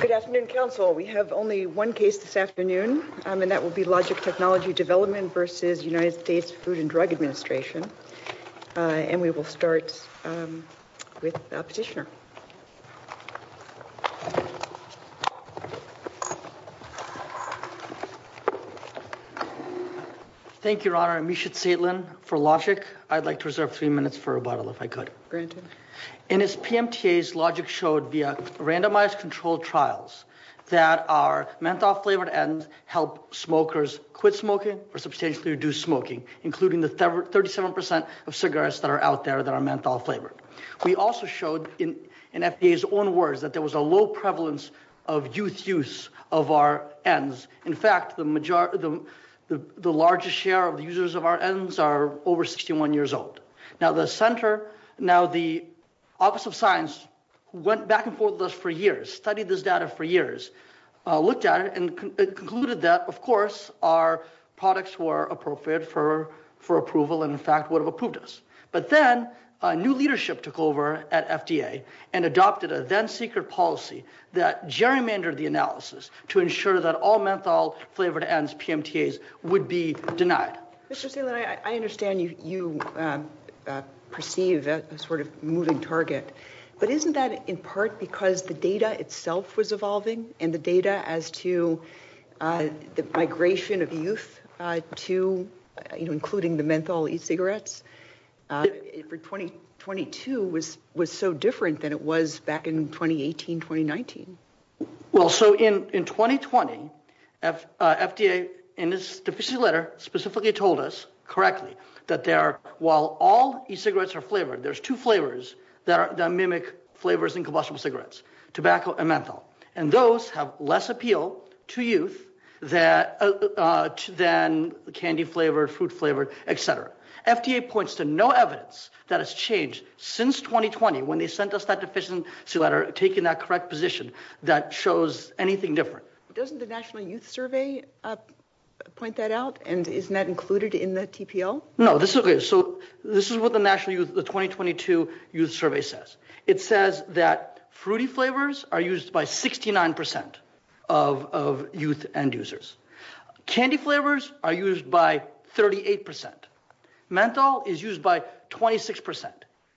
Good afternoon, Council. We have only one case this afternoon, and that will be Logic Technology Development v. United States Food and Drug Administration, and we will start with the petitioner. Thank you, Your Honor. I'm Mishat Seytlin for Logic. I'd like to reserve three minutes for rebuttal if I could. In his PMTAs, Logic showed via randomized controlled trials that our menthol-flavored ends help smokers quit smoking or substantially reduce smoking, including the 37% of cigarettes that are out there that are menthol-flavored. We also showed in FDA's own words that there was a low prevalence of youth use of our ends. In fact, the largest share of users of our ends are over 61 years old. Now, the Office of Science went back and forth with us for years, studied this data for years, looked at it, and concluded that, of course, our products were appropriate for approval and, in fact, would have approved us. But then new leadership took over at FDA and adopted a then-secret policy that gerrymandered the analysis to ensure that all menthol-flavored ends, PMTAs, would be denied. Mr. Seytlin, I understand you perceive a sort of moving target, but isn't that in part because the data itself was evolving and the data as to the migration of youth to, you know, including the menthol e-cigarettes for 2022 was so different than it was back in 2018, 2019? Well, so in 2020, FDA, in its deficiency letter, specifically told us correctly that while all e-cigarettes are flavored, there's two flavors that mimic flavors in combustible cigarettes, tobacco and menthol, and those have less appeal to youth than candy-flavored, fruit-flavored, etc. FDA points to no evidence that has changed since 2020 when they sent us that deficiency letter taking that correct position that shows anything different. Doesn't the National Youth Survey point that out, and isn't that included in the TPO? No, this is what the National Youth, the 2022 Youth Survey says. It says that fruity flavors are used by 69% of youth end-users. Candy flavors are used by 38%. Menthol is used by 26%.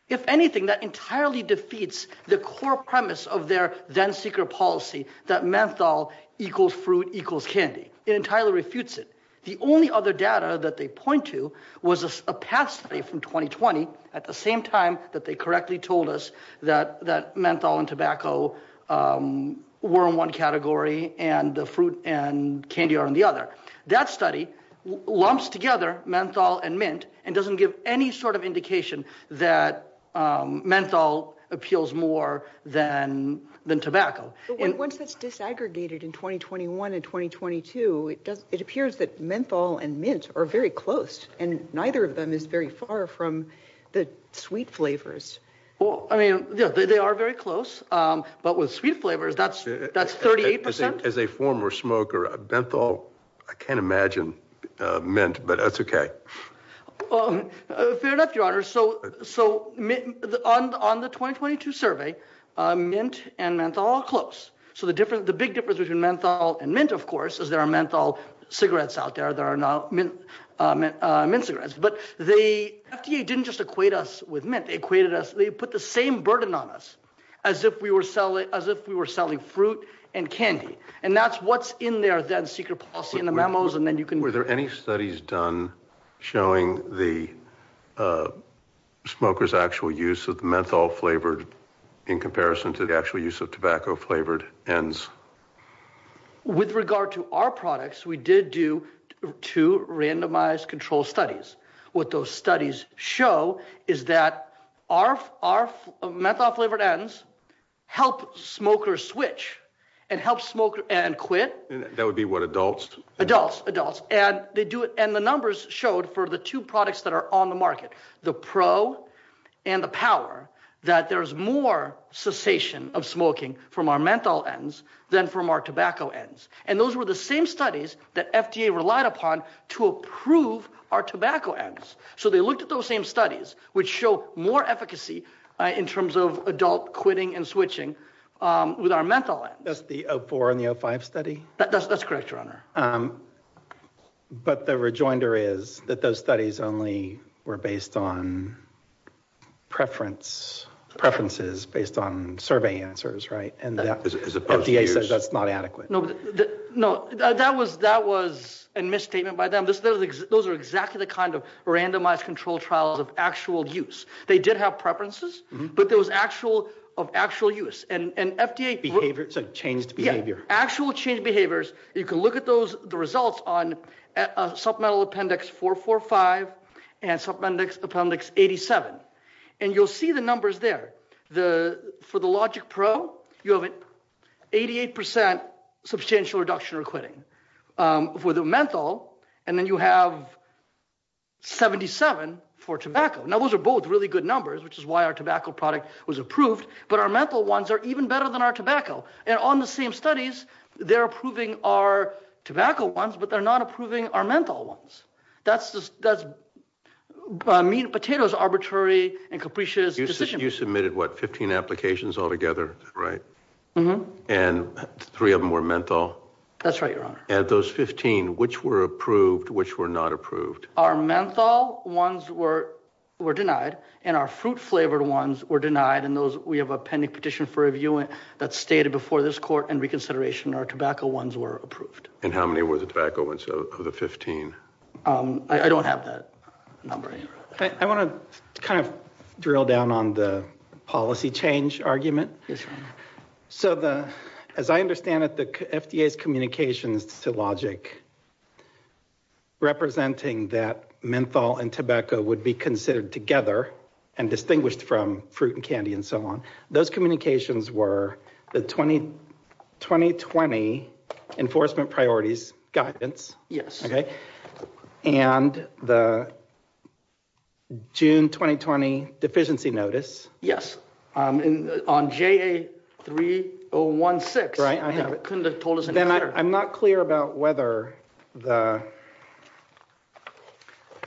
If anything, that entirely defeats the core premise of their then-secret policy that menthol equals fruit equals candy. It entirely refutes it. The only other data that they point to was a PATH study from 2020 at the same time that they correctly told us that menthol and tobacco were in one category and the fruit and candy are in the other. That study lumps together menthol and mint and doesn't give any sort of indication that menthol appeals more than tobacco. Once that's disaggregated in 2021 and 2022, it appears that menthol and mint are very close, and neither of them is very far from the sweet flavors. Well, I mean, they are very close, but with sweet flavors, that's 38%. As a former smoker, menthol, I can't imagine mint, but that's okay. Fair enough, Your Honor. So on the 2022 survey, mint and menthol are close. So the big difference between menthol and mint, of course, is there are menthol cigarettes out there. There are no mint cigarettes. But the FDA didn't just equate us with mint. They put the same burden on us as if we were selling fruit and candy. And that's what's in their then-secret policy in the memos. Were there any studies done showing the smoker's actual use of menthol-flavored in comparison to the actual use of tobacco-flavored ends? With regard to our products, we did do two randomized control studies. What those studies show is that our menthol-flavored ends help smokers switch and help smokers quit. That would be what, adults? Adults, adults. And the numbers showed for the two products that are on the market, the Pro and the Power, that there's more cessation of smoking from our menthol ends than from our tobacco ends. And those were the same studies that FDA relied upon to approve our tobacco ends. So they looked at those same studies, which show more efficacy in terms of adult quitting and switching with our menthol ends. That's the 04 and the 05 study? That's correct, Your Honor. But the rejoinder is that those studies only were based on preferences based on survey answers, right? As opposed to use. And FDA says that's not adequate. No, that was a misstatement by them. Those are exactly the kind of randomized control trials of actual use. They did have preferences, but there was actual use. So changed behavior. Yeah, actual change behaviors. You can look at the results on supplemental appendix 445 and supplemental appendix 87. And you'll see the numbers there. For the Logic Pro, you have an 88 percent substantial reduction in quitting for the menthol, and then you have 77 for tobacco. Now, those are both really good numbers, which is why our tobacco product was approved. But our menthol ones are even better than our tobacco. And on the same studies, they're approving our tobacco ones, but they're not approving our menthol ones. That's a mean potato's arbitrary and capricious decision. You submitted, what, 15 applications altogether, right? Mm-hmm. And three of them were menthol? That's right, Your Honor. And those 15, which were approved, which were not approved? Our menthol ones were denied, and our fruit-flavored ones were denied. And we have a pending petition for review that's stated before this court in reconsideration. Our tobacco ones were approved. And how many were the tobacco ones of the 15? I don't have that number. I want to kind of drill down on the policy change argument. Yes, Your Honor. So, as I understand it, the FDA's communications to LOGIC representing that menthol and tobacco would be considered together and distinguished from fruit and candy and so on, those communications were the 2020 enforcement priorities guidance. Yes. Okay? And the June 2020 deficiency notice. Yes. On JA3016. Right, I have it. Couldn't have told us any better. I'm not clear about whether the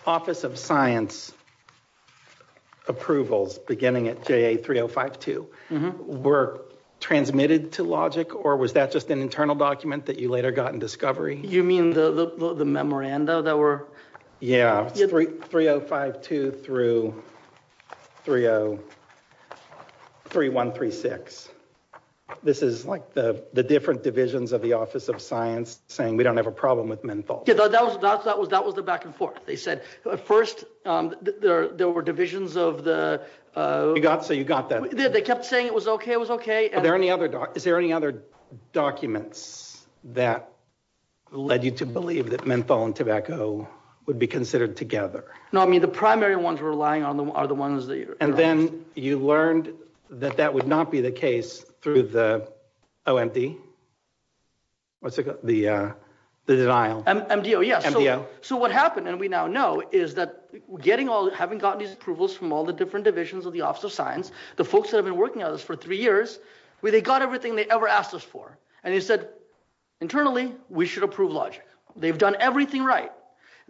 Office of Science approvals beginning at JA3052 were transmitted to LOGIC, or was that just an internal document that you later got in discovery? You mean the memoranda that were? Yes, 3052 through 303136. This is like the different divisions of the Office of Science saying we don't have a problem with menthol. Yes, that was the back and forth. They said at first there were divisions of the. So you got that. They kept saying it was okay, it was okay. Is there any other documents that led you to believe that menthol and tobacco would be considered together? No, I mean the primary ones we're relying on are the ones that you're. And then you learned that that would not be the case through the OMD? What's it called? The denial. MDO, yes. MDO. So what happened, and we now know, is that getting all, having gotten these approvals from all the different divisions of the Office of Science, the folks that have been working on this for three years, they got everything they ever asked us for. And they said internally we should approve logic. They've done everything right.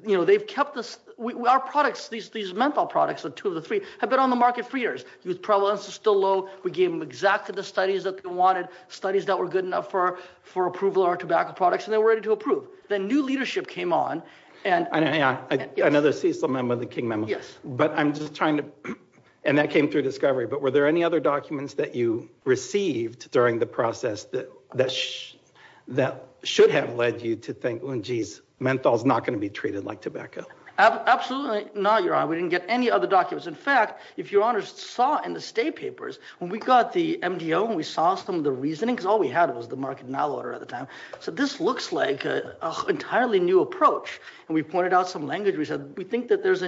You know, they've kept us, our products, these menthol products, the two of the three, have been on the market for years. The prevalence is still low. We gave them exactly the studies that they wanted, studies that were good enough for approval of our tobacco products, and they were ready to approve. Then new leadership came on. Another CSLA member, the King member. Yes. But I'm just trying to, and that came through discovery. But were there any other documents that you received during the process that should have led you to think, oh, geez, menthol's not going to be treated like tobacco? Absolutely not, Your Honor. We didn't get any other documents. In fact, if Your Honor saw in the state papers, when we got the MDO and we saw some of the reasoning, because all we had was the market denial order at the time, said this looks like an entirely new approach. And we pointed out some language. We said, we think that there's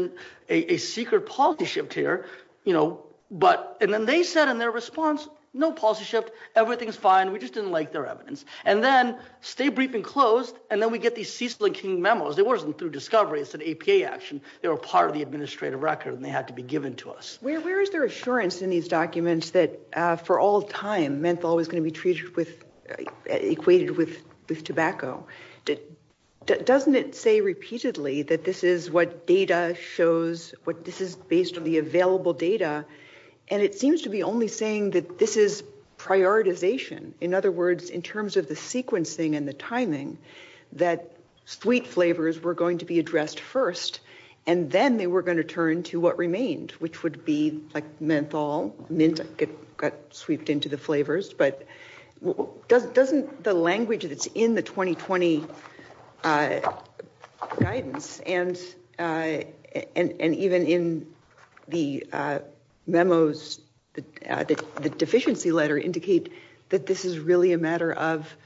a secret policy shift here. And then they said in their response, no policy shift. Everything's fine. We just didn't like their evidence. And then stay brief and closed. And then we get these CSLA King memos. It wasn't through discovery. It's an APA action. They were part of the administrative record, and they had to be given to us. Where is there assurance in these documents that for all time menthol was going to be treated with, equated with tobacco? Doesn't it say repeatedly that this is what data shows? This is based on the available data. And it seems to be only saying that this is prioritization. In other words, in terms of the sequencing and the timing, that sweet flavors were going to be addressed first, and then they were going to turn to what remained, which would be like menthol. Mint got sweeped into the flavors. But doesn't the language that's in the 2020 guidance and even in the memos, the deficiency letter indicate that this is really a matter of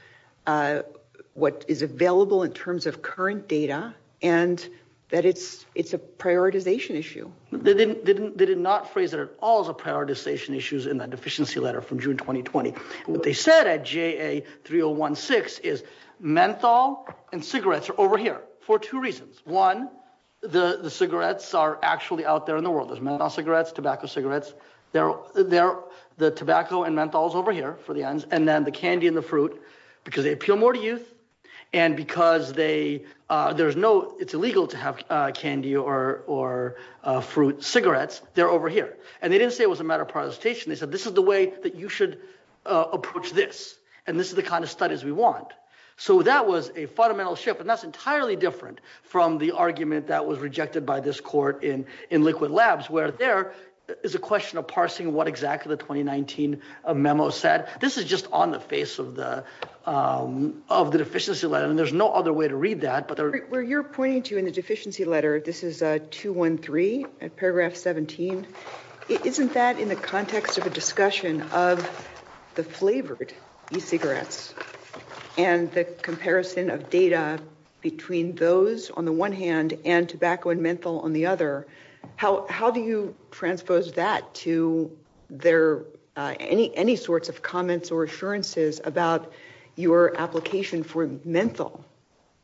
what is available in terms of current data, and that it's a prioritization issue. They did not phrase it at all as a prioritization issue in the deficiency letter from June 2020. What they said at JA 3016 is menthol and cigarettes are over here for two reasons. One, the cigarettes are actually out there in the world. There's menthol cigarettes, tobacco cigarettes. The tobacco and menthol is over here for the ends. They're over here. And they didn't say it was a matter of prioritization. They said this is the way that you should approach this, and this is the kind of studies we want. So that was a fundamental shift, and that's entirely different from the argument that was rejected by this court in Liquid Labs, where there is a question of parsing what exactly the 2019 memo said. This is just on the face of the deficiency letter, and there's no other way to read that. Where you're pointing to in the deficiency letter, this is 213, paragraph 17. Isn't that in the context of a discussion of the flavored e-cigarettes and the comparison of data between those on the one hand and tobacco and menthol on the other? How do you transpose that to any sorts of comments or assurances about your application for menthol?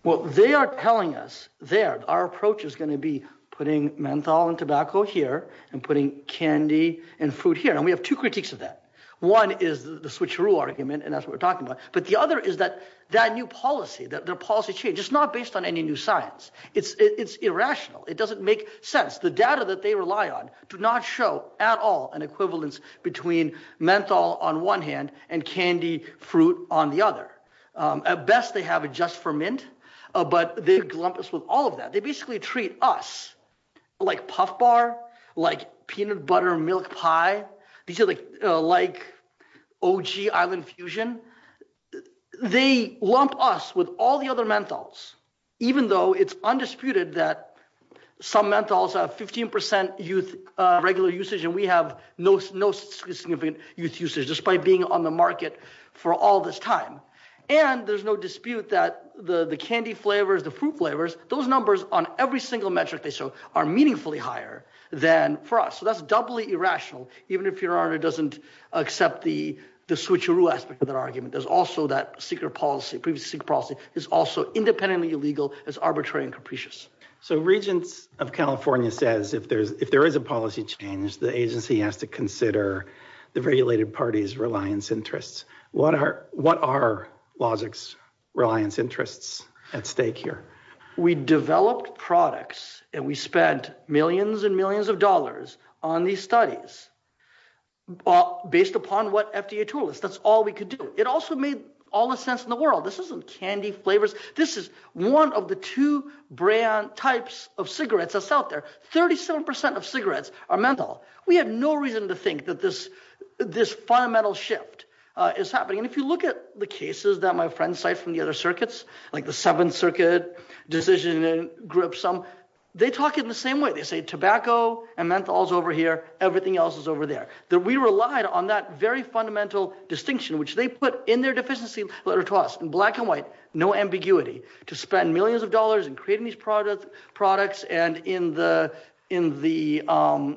Well, they are telling us there our approach is going to be putting menthol and tobacco here and putting candy and fruit here. And we have two critiques of that. One is the switcheroo argument, and that's what we're talking about. But the other is that that new policy, their policy change, it's not based on any new science. It's irrational. It doesn't make sense. The data that they rely on do not show at all an equivalence between menthol on one hand and candy fruit on the other. At best, they have it just for mint, but they lump us with all of that. They basically treat us like Puff Bar, like peanut butter milk pie. These are like OG Island Fusion. They lump us with all the other menthols, even though it's undisputed that some menthols have 15 percent regular usage and we have no significant usage, despite being on the market for all this time. And there's no dispute that the candy flavors, the fruit flavors, those numbers on every single metric they show are meaningfully higher than for us. So that's doubly irrational, even if your honor doesn't accept the switcheroo aspect of that argument. There's also that secret policy. Previous secret policy is also independently illegal. It's arbitrary and capricious. So Regents of California says if there is a policy change, the agency has to consider the regulated party's reliance interests. What are Logix's reliance interests at stake here? We developed products and we spent millions and millions of dollars on these studies based upon what FDA told us. That's all we could do. It also made all the sense in the world. This isn't candy flavors. This is one of the two brand types of cigarettes that's out there. 37 percent of cigarettes are menthol. We have no reason to think that this fundamental shift is happening. And if you look at the cases that my friends cite from the other circuits, like the Seventh Circuit decision group, they talk in the same way. They say tobacco and menthol is over here. Everything else is over there. We relied on that very fundamental distinction, which they put in their deficiency letter to us. In black and white, no ambiguity to spend millions of dollars in creating these products and more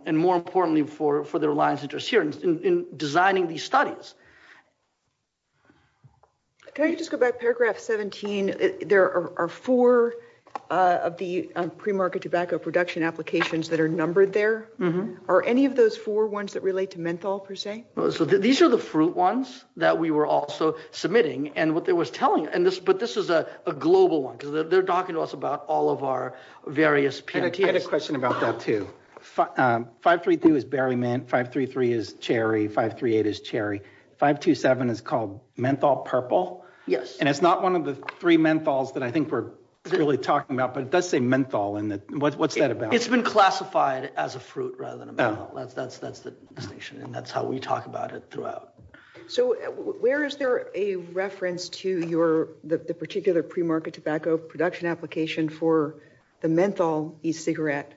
importantly for their reliance interests here in designing these studies. Can I just go back to paragraph 17? There are four of the premarket tobacco production applications that are numbered there. Are any of those four ones that relate to menthol, per se? These are the fruit ones that we were also submitting. But this is a global one. They're talking to us about all of our various PMTs. I had a question about that, too. 533 is berry mint, 533 is cherry, 538 is cherry. 527 is called menthol purple. Yes. And it's not one of the three menthols that I think we're really talking about, but it does say menthol. What's that about? It's been classified as a fruit rather than a menthol. That's the distinction, and that's how we talk about it throughout. So where is there a reference to the particular premarket tobacco production application for the menthol e-cigarette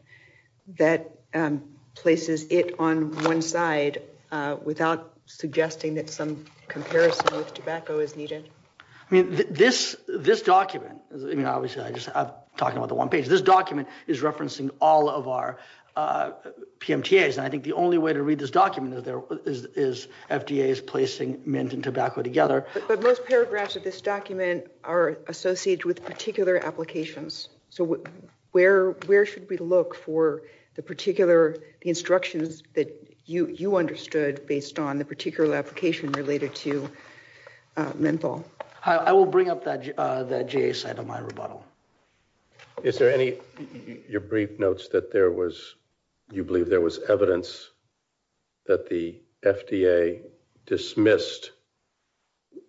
that places it on one side without suggesting that some comparison with tobacco is needed? This document is referencing all of our PMTAs, and I think the only way to read this document is FDA is placing mint and tobacco together. But most paragraphs of this document are associated with particular applications. So where should we look for the particular instructions that you understood based on the particular application related to menthol? I will bring up that GA side of my rebuttal. Is there any of your brief notes that you believe there was evidence that the FDA dismissed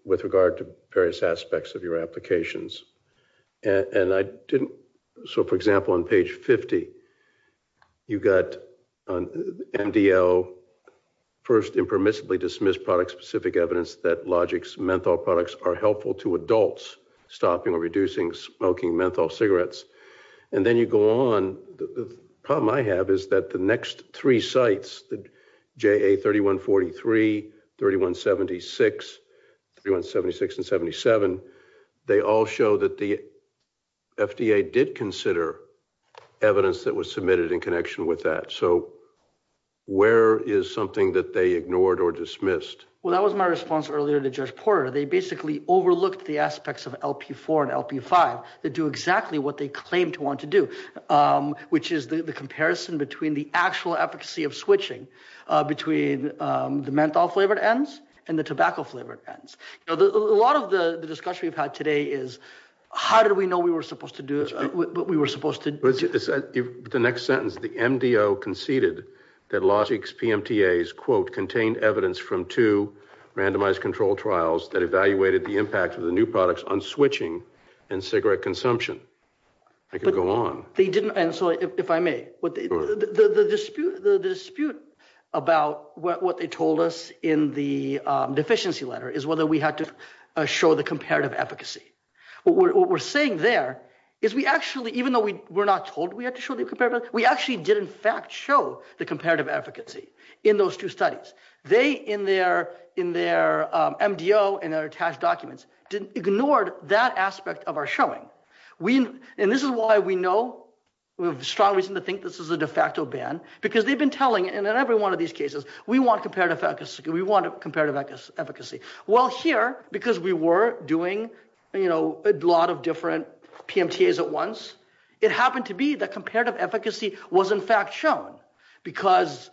with regard to various aspects of your applications? So, for example, on page 50, you've got MDL, first impermissibly dismissed product-specific evidence that Logix menthol products are helpful to adults, stopping or reducing smoking menthol cigarettes. And then you go on. The problem I have is that the next three sites, the JA 3143, 3176, 3176, and 3177, they all show that the FDA did consider evidence that was submitted in connection with that. So where is something that they ignored or dismissed? Well, that was my response earlier to Judge Porter. They basically overlooked the aspects of LP4 and LP5 that do exactly what they claim to want to do, which is the comparison between the actual efficacy of switching between the menthol-flavored ends and the tobacco-flavored ends. A lot of the discussion we've had today is how did we know we were supposed to do it, what we were supposed to do? The next sentence, the MDO conceded that Logix PMTAs, quote, that evaluated the impact of the new products on switching and cigarette consumption. I could go on. And so if I may, the dispute about what they told us in the deficiency letter is whether we had to show the comparative efficacy. What we're saying there is we actually, even though we were not told we had to show the comparative, we actually did, in fact, show the comparative efficacy in those two studies. They, in their MDO and their attached documents, ignored that aspect of our showing. And this is why we know, we have a strong reason to think this is a de facto ban because they've been telling, and in every one of these cases, we want comparative efficacy. Well, here, because we were doing a lot of different PMTAs at once, it happened to be that comparative efficacy was, in fact, shown because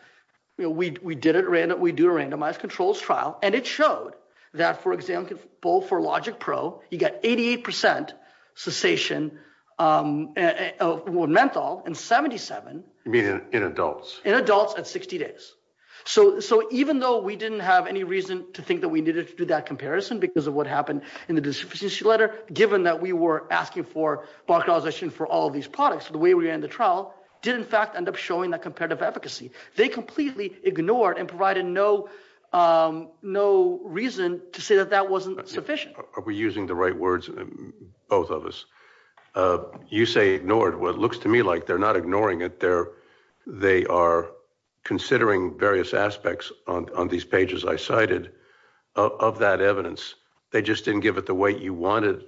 we did a randomized controls trial, and it showed that, for example, for Logix Pro, you got 88 percent cessation of menthol in 77. You mean in adults? In adults at 60 days. So even though we didn't have any reason to think that we needed to do that comparison because of what happened in the deficiency letter, given that we were asking for block authorization for all of these products, the way we ran the trial did, in fact, end up showing that comparative efficacy. They completely ignored and provided no reason to say that that wasn't sufficient. Are we using the right words, both of us? You say ignored. Well, it looks to me like they're not ignoring it. They are considering various aspects on these pages I cited of that evidence. They just didn't give it the weight you wanted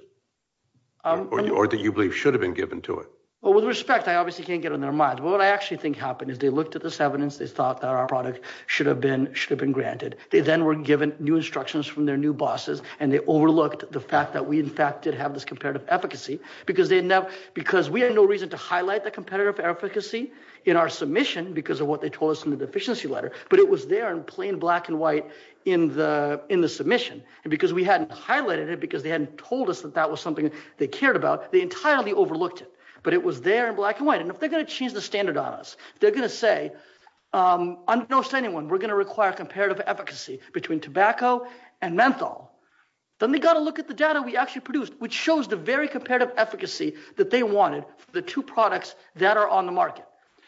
or that you believe should have been given to it. Well, with respect, I obviously can't get on their mind. What I actually think happened is they looked at this evidence. They thought that our product should have been granted. They then were given new instructions from their new bosses, and they overlooked the fact that we, in fact, did have this comparative efficacy because we had no reason to highlight the competitive efficacy in our submission because of what they told us in the deficiency letter, but it was there in plain black and white in the submission. And because we hadn't highlighted it, because they hadn't told us that that was something they cared about, they entirely overlooked it, but it was there in black and white. And if they're going to change the standard on us, they're going to say, I'm going to say to anyone, we're going to require comparative efficacy between tobacco and menthol. Then they've got to look at the data we actually produced, which shows the very comparative efficacy that they wanted for the two products that are on the market.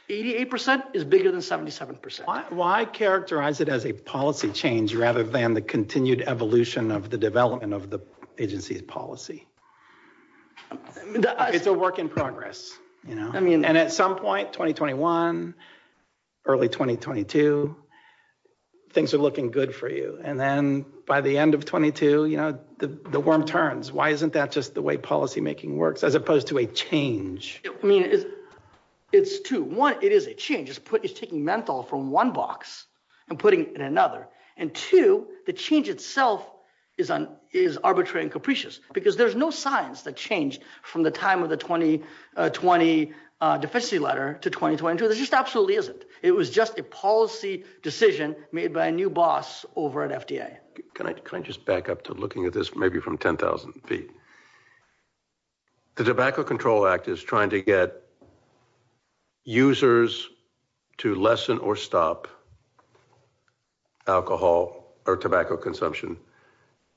Eighty-eight percent is bigger than 77 percent. Why characterize it as a policy change rather than the continued evolution of the development of the agency's policy? It's a work in progress. And at some point, 2021, early 2022, things are looking good for you. And then by the end of 22, the worm turns. Why isn't that just the way policymaking works as opposed to a change? I mean, it's two. One, it is a change. It's taking menthol from one box and putting it in another. And two, the change itself is arbitrary and capricious, because there's no science that changed from the time of the 2020 deficiency letter to 2022. There just absolutely isn't. It was just a policy decision made by a new boss over at FDA. Can I just back up to looking at this maybe from 10,000 feet? The Tobacco Control Act is trying to get users to lessen or stop alcohol or tobacco consumption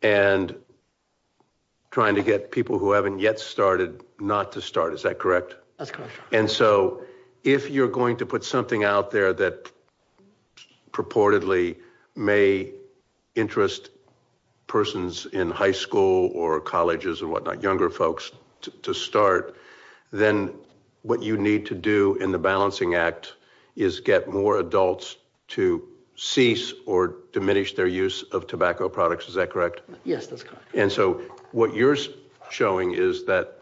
and trying to get people who haven't yet started not to start. Is that correct? That's correct. And so if you're going to put something out there that purportedly may interest persons in high school or colleges and whatnot, younger folks to start, then what you need to do in the balancing act is get more adults to cease or diminish their use of tobacco products. Is that correct? Yes, that's correct. And so what you're showing is that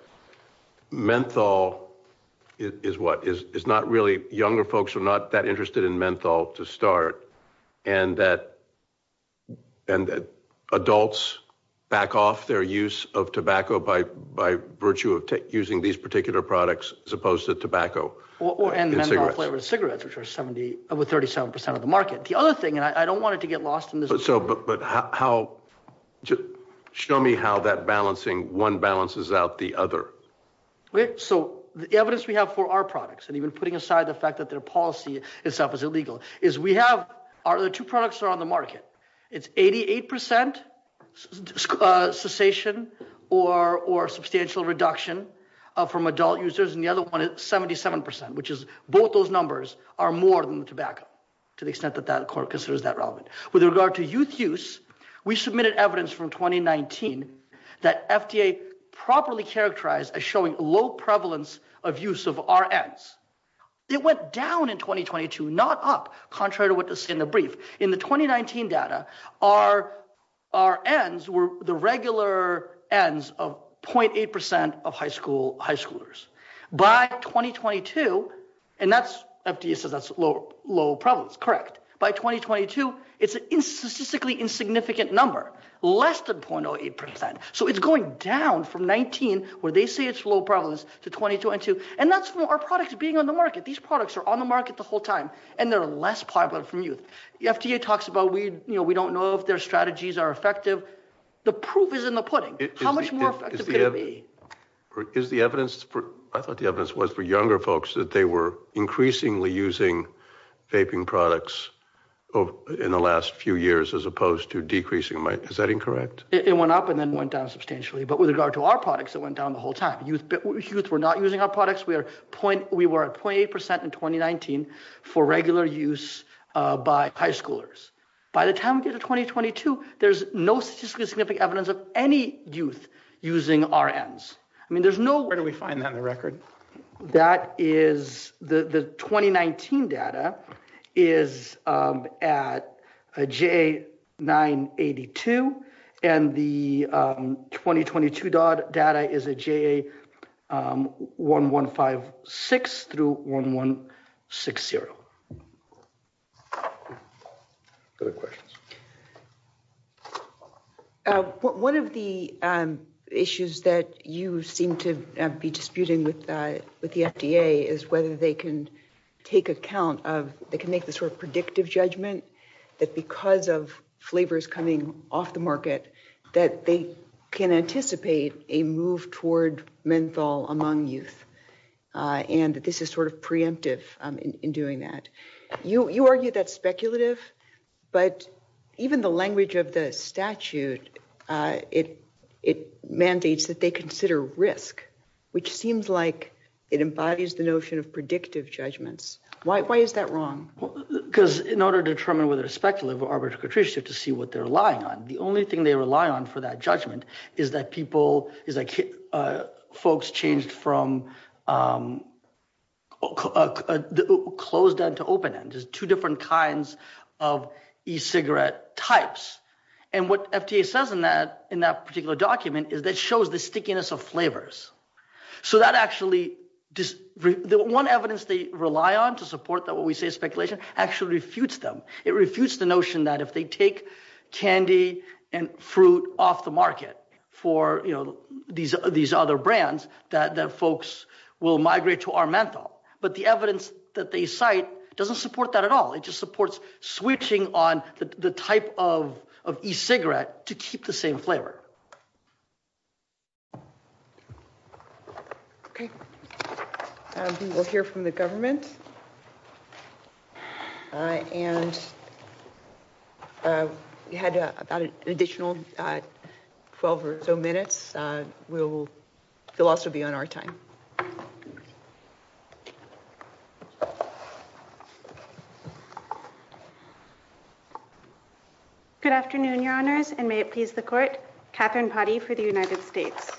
menthol is not really – younger folks are not that interested in menthol to start, and that adults back off their use of tobacco by virtue of using these particular products as opposed to tobacco. And menthol-flavored cigarettes, which are over 37 percent of the market. The other thing – and I don't want it to get lost in this. But how – show me how that balancing – one balances out the other. So the evidence we have for our products, and even putting aside the fact that their policy itself is illegal, is we have – our other two products are on the market. It's 88 percent cessation or substantial reduction from adult users, and the other one is 77 percent, which is both those numbers are more than the tobacco to the extent that that court considers that relevant. With regard to youth use, we submitted evidence from 2019 that FDA properly characterized as showing low prevalence of use of RNs. It went down in 2022, not up, contrary to what is in the brief. In the 2019 data, RNs were the regular Ns of 0.8 percent of high schoolers. By 2022 – and that's – FDA says that's low prevalence, correct. By 2022, it's a statistically insignificant number, less than 0.8 percent. So it's going down from 19, where they say it's low prevalence, to 22. And that's from our products being on the market. These products are on the market the whole time, and they're less popular from youth. The FDA talks about, you know, we don't know if their strategies are effective. The proof is in the pudding. How much more effective could it be? Is the evidence – I thought the evidence was for younger folks that they were increasingly using vaping products in the last few years as opposed to decreasing – is that incorrect? It went up and then went down substantially. But with regard to our products, it went down the whole time. Youth were not using our products. We were at 0.8 percent in 2019 for regular use by high schoolers. By the time we get to 2022, there's no statistically significant evidence of any youth using RNs. I mean, there's no – Where do we find that in the record? That is – the 2019 data is at a JA982, and the 2022 data is a JA1156 through 1160. Other questions? One of the issues that you seem to be disputing with the FDA is whether they can take account of – they can make the sort of predictive judgment that because of flavors coming off the market, that they can anticipate a move toward menthol among youth, and that this is sort of preemptive in doing that. You argue that's speculative, but even the language of the statute, it mandates that they consider risk, which seems like it embodies the notion of predictive judgments. Why is that wrong? Because in order to determine whether it's speculative or arbitrary, you have to see what they're relying on. The only thing they rely on for that judgment is that folks changed from closed end to open end, just two different kinds of e-cigarette types. And what FDA says in that particular document is that it shows the stickiness of flavors. So that actually – the one evidence they rely on to support what we say is speculation actually refutes them. It refutes the notion that if they take candy and fruit off the market for these other brands, that folks will migrate to our menthol. But the evidence that they cite doesn't support that at all. It just supports switching on the type of e-cigarette to keep the same flavor. Okay. We will hear from the government. And we had about an additional 12 or so minutes. We'll – they'll also be on our time. Good afternoon, Your Honors, and may it please the Court. Catherine Potty for the United States.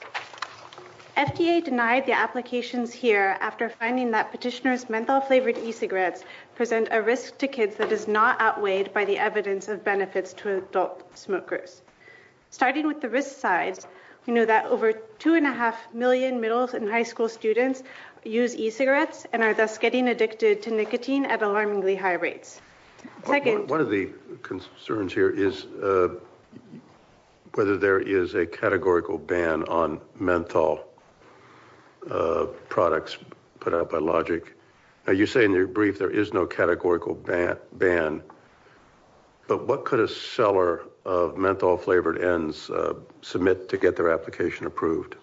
FDA denied the applications here after finding that petitioners' menthol-flavored e-cigarettes present a risk to kids that is not outweighed by the evidence of benefits to adult smokers. Starting with the risk side, we know that over 2.5 million middle and high school students use e-cigarettes and are thus getting addicted to nicotine at alarmingly high rates. One of the concerns here is whether there is a categorical ban on menthol products put out by Logic. Now, you say in your brief there is no categorical ban, but what could a seller of menthol-flavored ends submit to get their application approved?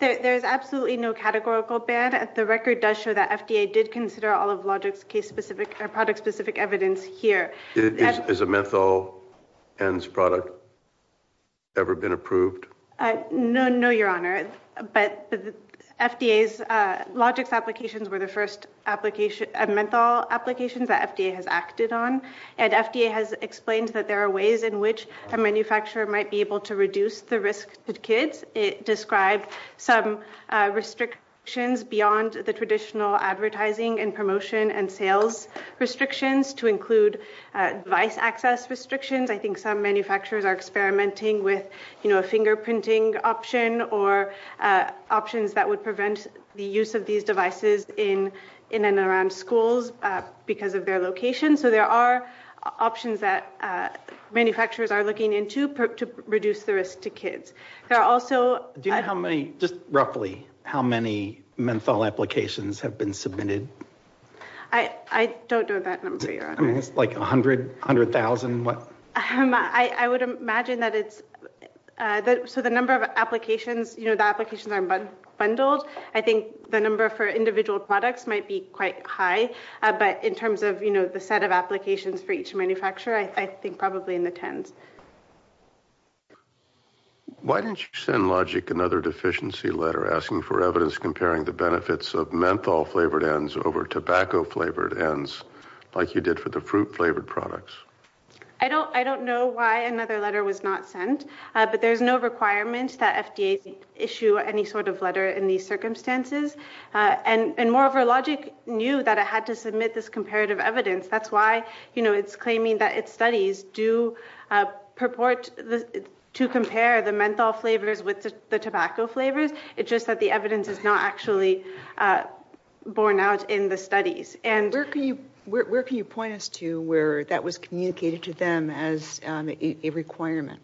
There is absolutely no categorical ban. The record does show that FDA did consider all of Logic's product-specific evidence here. Has a menthol ends product ever been approved? No, Your Honor. But the FDA's – Logic's applications were the first menthol applications that FDA has acted on. And FDA has explained that there are ways in which a manufacturer might be able to reduce the risk to kids. It described some restrictions beyond the traditional advertising and promotion and sales restrictions to include device access restrictions. I think some manufacturers are experimenting with, you know, a fingerprinting option or options that would prevent the use of these devices in and around schools because of their location. So there are options that manufacturers are looking into to reduce the risk to kids. Do you know how many – just roughly – how many menthol applications have been submitted? I don't know that number, Your Honor. Like 100,000? I would imagine that it's – so the number of applications, you know, the applications are bundled. I think the number for individual products might be quite high. But in terms of, you know, the set of applications for each manufacturer, I think probably in the tens. Why didn't you send Logic another deficiency letter asking for evidence comparing the benefits of menthol-flavored ends over tobacco-flavored ends like you did for the fruit-flavored products? I don't know why another letter was not sent. But there's no requirement that FDA issue any sort of letter in these circumstances. And moreover, Logic knew that it had to submit this comparative evidence. That's why, you know, it's claiming that its studies do purport to compare the menthol flavors with the tobacco flavors. It's just that the evidence is not actually borne out in the studies. And where can you – where can you point us to where that was communicated to them as a requirement?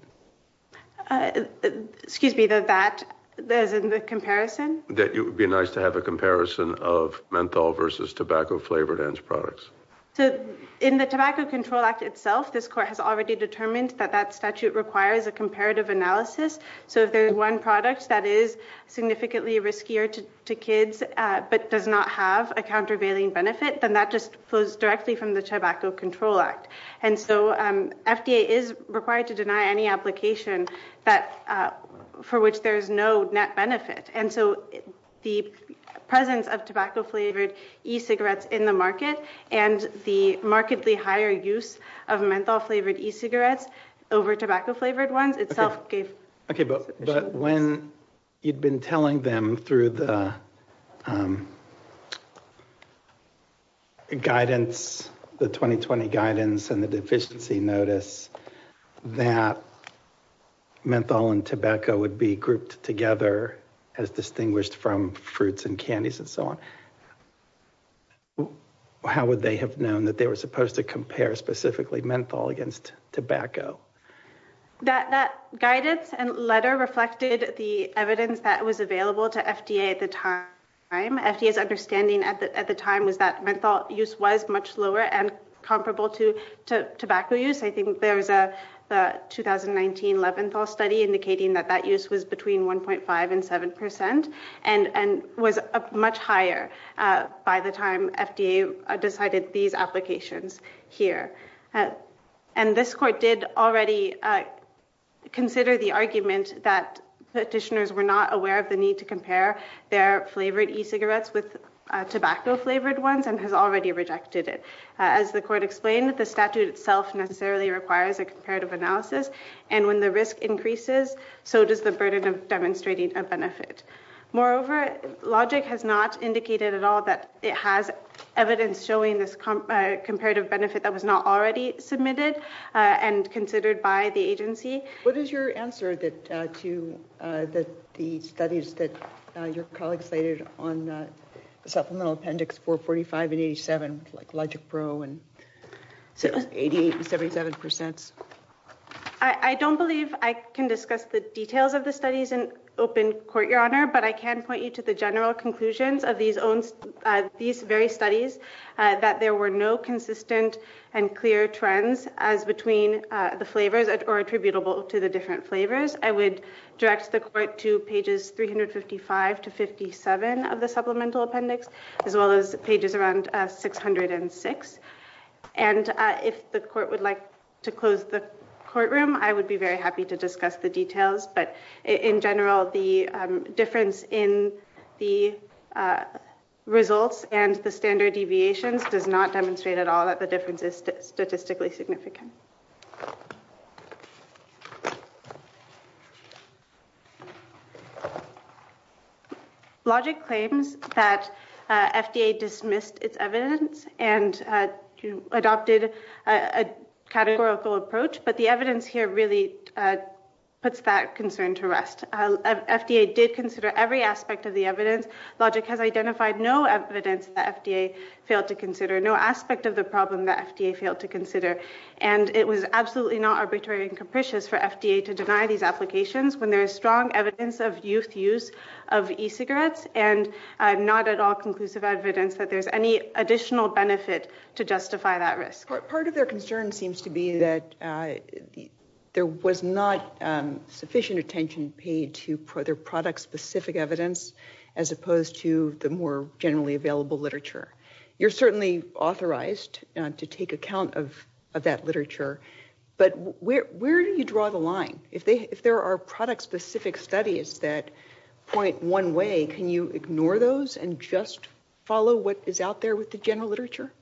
Excuse me, the that – as in the comparison? That it would be nice to have a comparison of menthol versus tobacco-flavored ends products. So in the Tobacco Control Act itself, this court has already determined that that statute requires a comparative analysis. So if there's one product that is significantly riskier to kids but does not have a countervailing benefit, then that just flows directly from the Tobacco Control Act. And so FDA is required to deny any application that – for which there is no net benefit. And so the presence of tobacco-flavored e-cigarettes in the market and the markedly higher use of menthol-flavored e-cigarettes over tobacco-flavored ones itself gave – But when you'd been telling them through the guidance, the 2020 guidance and the deficiency notice, that menthol and tobacco would be grouped together as distinguished from fruits and candies and so on, how would they have known that they were supposed to compare specifically menthol against tobacco? That guidance and letter reflected the evidence that was available to FDA at the time. FDA's understanding at the time was that menthol use was much lower and comparable to tobacco use. I think there was a 2019 Leventhal study indicating that that use was between 1.5 and 7 percent and was much higher by the time FDA decided these applications here. And this court did already consider the argument that petitioners were not aware of the need to compare their flavored e-cigarettes with tobacco-flavored ones and has already rejected it. As the court explained, the statute itself necessarily requires a comparative analysis, and when the risk increases, so does the burden of demonstrating a benefit. Moreover, Logic has not indicated at all that it has evidence showing this comparative benefit that was not already submitted and considered by the agency. What is your answer to the studies that your colleagues cited on supplemental appendix 445 and 87, like Logic Pro and 88 and 77 percents? I don't believe I can discuss the details of the studies in open court, Your Honor, but I can point you to the general conclusions of these very studies, that there were no consistent and clear trends as between the flavors or attributable to the different flavors. I would direct the court to pages 355 to 57 of the supplemental appendix, as well as pages around 606. And if the court would like to close the courtroom, I would be very happy to discuss the details, but in general, the difference in the results and the standard deviations does not demonstrate at all that the difference is statistically significant. Thank you. Logic claims that FDA dismissed its evidence and adopted a categorical approach, but the evidence here really puts that concern to rest. FDA did consider every aspect of the evidence. Logic has identified no evidence that FDA failed to consider, no aspect of the problem that FDA failed to consider, and it was absolutely not arbitrary and capricious for FDA to deny these applications when there is strong evidence of youth use of e-cigarettes and not at all conclusive evidence that there's any additional benefit to justify that risk. Part of their concern seems to be that there was not sufficient attention paid to their product-specific evidence as opposed to the more generally available literature. You're certainly authorized to take account of that literature, but where do you draw the line? If there are product-specific studies that point one way, can you ignore those and just follow what is out there with the general literature?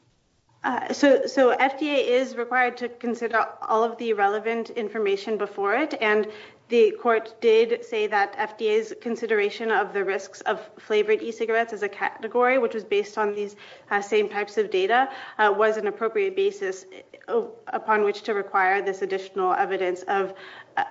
So FDA is required to consider all of the relevant information before it, and the court did say that FDA's consideration of the risks of flavored e-cigarettes is a category, which was based on these same types of data, was an appropriate basis upon which to require this additional evidence of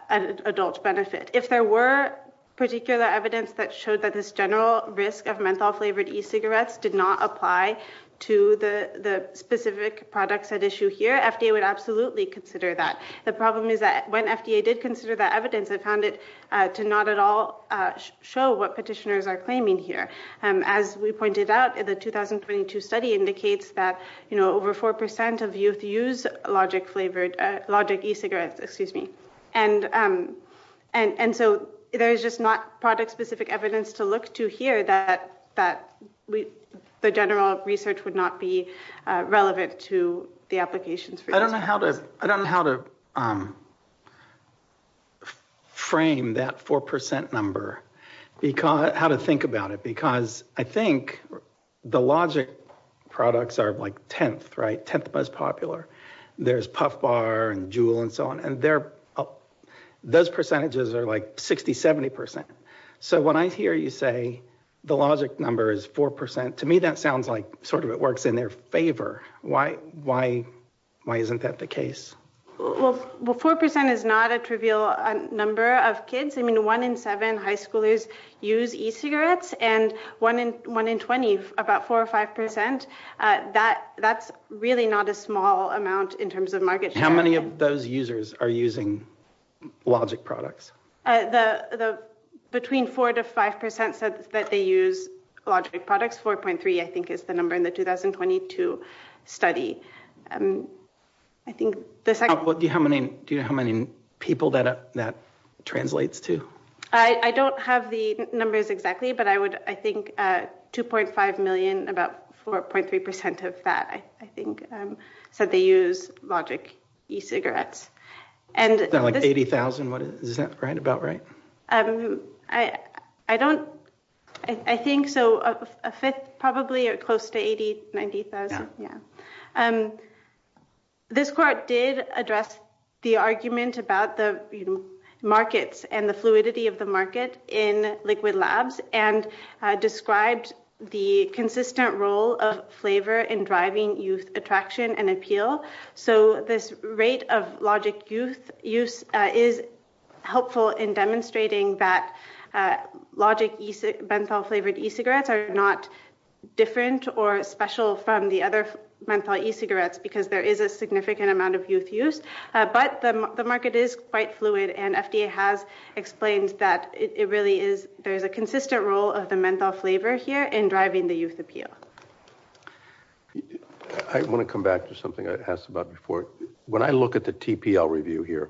adult benefit. If there were particular evidence that showed that this general risk of menthol-flavored e-cigarettes did not apply to the specific products at issue here, FDA would absolutely consider that. The problem is that when FDA did consider that evidence, it found it to not at all show what petitioners are claiming here. As we pointed out, the 2022 study indicates that over 4% of youth use logic e-cigarettes. And so there is just not product-specific evidence to look to here that the general research would not be relevant to the applications for e-cigarettes. I don't know how to frame that 4% number, how to think about it, because I think the logic products are like 10th, right, 10th most popular. There's Puff Bar and Juul and so on, and those percentages are like 60%, 70%. So when I hear you say the logic number is 4%, to me that sounds like sort of it works in their favor. Why isn't that the case? Well, 4% is not a trivial number of kids. I mean, 1 in 7 high schoolers use e-cigarettes, and 1 in 20, about 4 or 5%, that's really not a small amount in terms of market share. How many of those users are using logic products? Between 4% to 5% said that they use logic products. 4.3, I think, is the number in the 2022 study. Do you know how many people that translates to? I don't have the numbers exactly, but I think 2.5 million, about 4.3% of that, I think, said they use logic e-cigarettes. It's not like 80,000, is that about right? I don't, I think so, a fifth, probably close to 80,000, 90,000. This court did address the argument about the markets and the fluidity of the market in liquid labs and described the consistent role of flavor in driving youth attraction and appeal. So this rate of logic youth use is helpful in demonstrating that logic menthol-flavored e-cigarettes are not different or special from the other menthol e-cigarettes because there is a significant amount of youth use. But the market is quite fluid, and FDA has explained that it really is, there is a consistent role of the menthol flavor here in driving the youth appeal. I want to come back to something I asked about before. When I look at the TPL review here,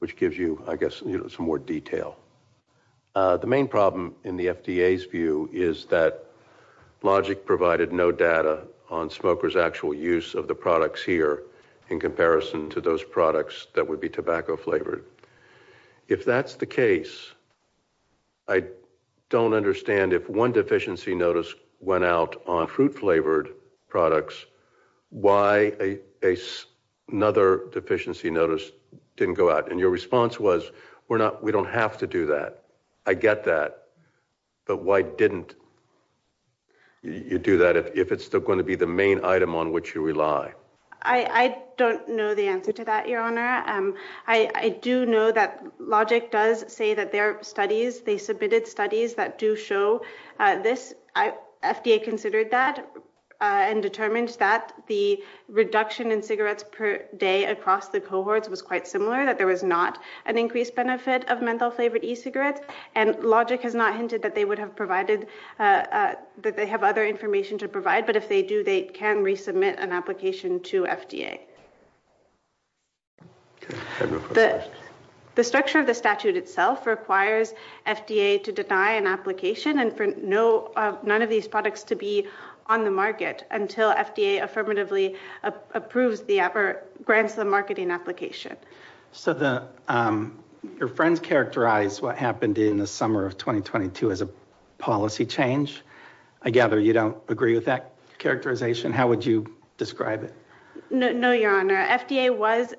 which gives you, I guess, some more detail, the main problem in the FDA's view is that logic provided no data on smokers' actual use of the products here in comparison to those products that would be tobacco-flavored. If that's the case, I don't understand if one deficiency notice went out on fruit-flavored products, why another deficiency notice didn't go out? And your response was, we don't have to do that. I get that, but why didn't you do that if it's still going to be the main item on which you rely? I don't know the answer to that, Your Honor. I do know that logic does say that there are studies, they submitted studies that do show this. FDA considered that and determined that the reduction in cigarettes per day across the cohorts was quite similar, that there was not an increased benefit of menthol-flavored e-cigarettes, and logic has not hinted that they would have provided, that they have other information to provide, but if they do, they can resubmit an application to FDA. The structure of the statute itself requires FDA to deny an application and for none of these products to be on the market until FDA affirmatively approves the grants of the marketing application. So your friends characterized what happened in the summer of 2022 as a policy change. I gather you don't agree with that characterization. How would you describe it? No, Your Honor. FDA was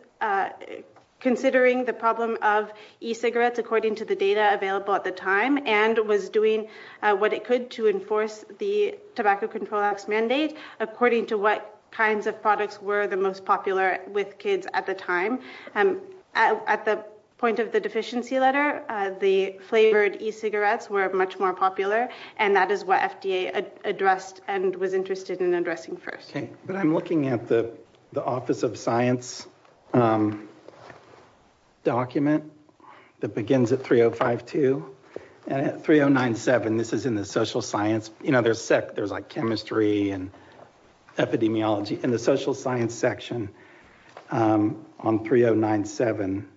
considering the problem of e-cigarettes according to the data available at the time and was doing what it could to enforce the Tobacco Control Act's mandate according to what kinds of products were the most popular with kids at the time. At the point of the deficiency letter, the flavored e-cigarettes were much more popular and that is what FDA addressed and was interested in addressing first. Okay, but I'm looking at the Office of Science document that begins at 3052. At 3097, this is in the social science, you know, there's like chemistry and epidemiology. In the social science section on 3097,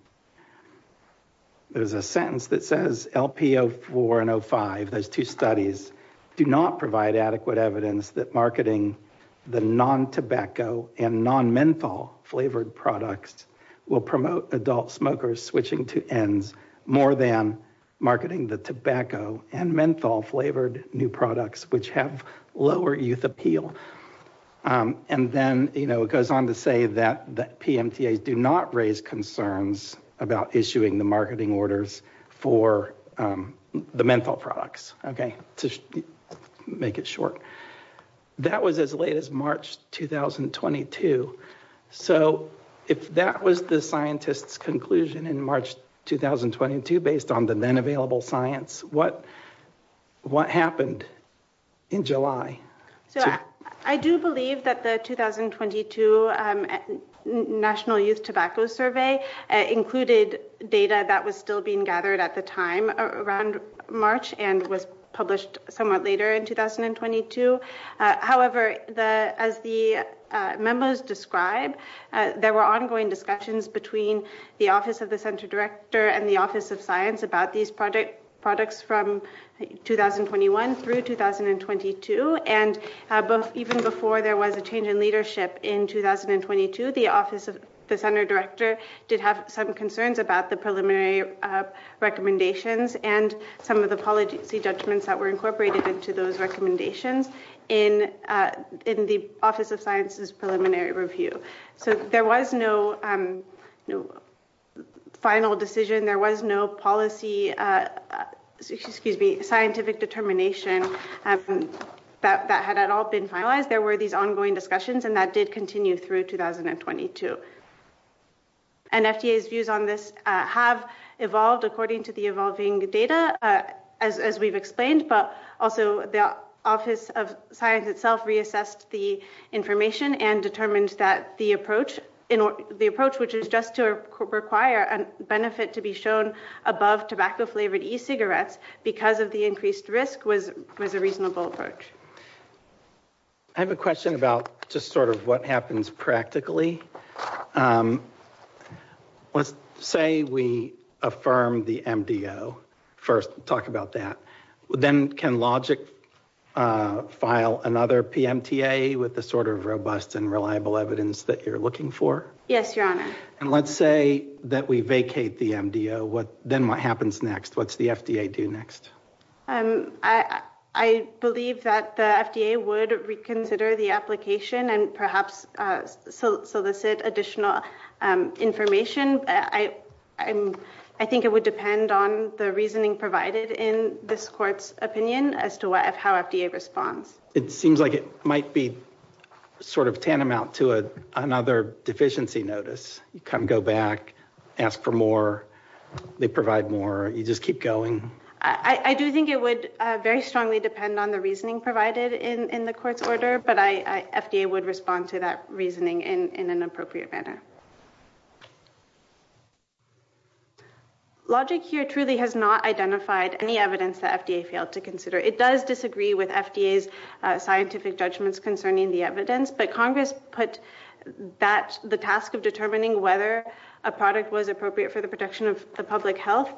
there's a sentence that says LP04 and 05, those two studies, do not provide adequate evidence that marketing the non-tobacco and non-menthol flavored products will promote adult smokers switching to ENDS more than marketing the tobacco and menthol flavored new products which have lower youth appeal. And then, you know, it goes on to say that PMTAs do not raise concerns about issuing the marketing orders for the menthol products, okay, to make it short. That was as late as March 2022. So if that was the scientist's conclusion in March 2022 based on the then available science, what happened in July? So I do believe that the 2022 National Youth Tobacco Survey included data that was still being gathered at the time around March and was published somewhat later in 2022. However, as the memos describe, there were ongoing discussions between the Office of the Center Director and the Office of Science about these products from 2021 through 2022. And even before there was a change in leadership in 2022, the Office of the Center Director did have some concerns about the preliminary recommendations and some of the policy judgments that were incorporated into those recommendations in the Office of Science's preliminary review. So there was no final decision. There was no policy, excuse me, scientific determination that had at all been finalized. There were these ongoing discussions, and that did continue through 2022. And FDA's views on this have evolved according to the evolving data, as we've explained, but also the Office of Science itself reassessed the information and determined that the approach, which is just to require a benefit to be shown above tobacco-flavored e-cigarettes because of the increased risk, was a reasonable approach. I have a question about just sort of what happens practically. Let's say we affirm the MDO first. Talk about that. Then can Logic file another PMTA with the sort of robust and reliable evidence that you're looking for? Yes, Your Honor. And let's say that we vacate the MDO. Then what happens next? What's the FDA do next? I believe that the FDA would reconsider the application and perhaps solicit additional information. I think it would depend on the reasoning provided in this court's opinion as to how FDA responds. It seems like it might be sort of tantamount to another deficiency notice. You come go back, ask for more, they provide more, you just keep going. I do think it would very strongly depend on the reasoning provided in the court's order, but FDA would respond to that reasoning in an appropriate manner. Logic here truly has not identified any evidence that FDA failed to consider. It does disagree with FDA's scientific judgments concerning the evidence, but Congress put the task of determining whether a product was appropriate for the protection of the public health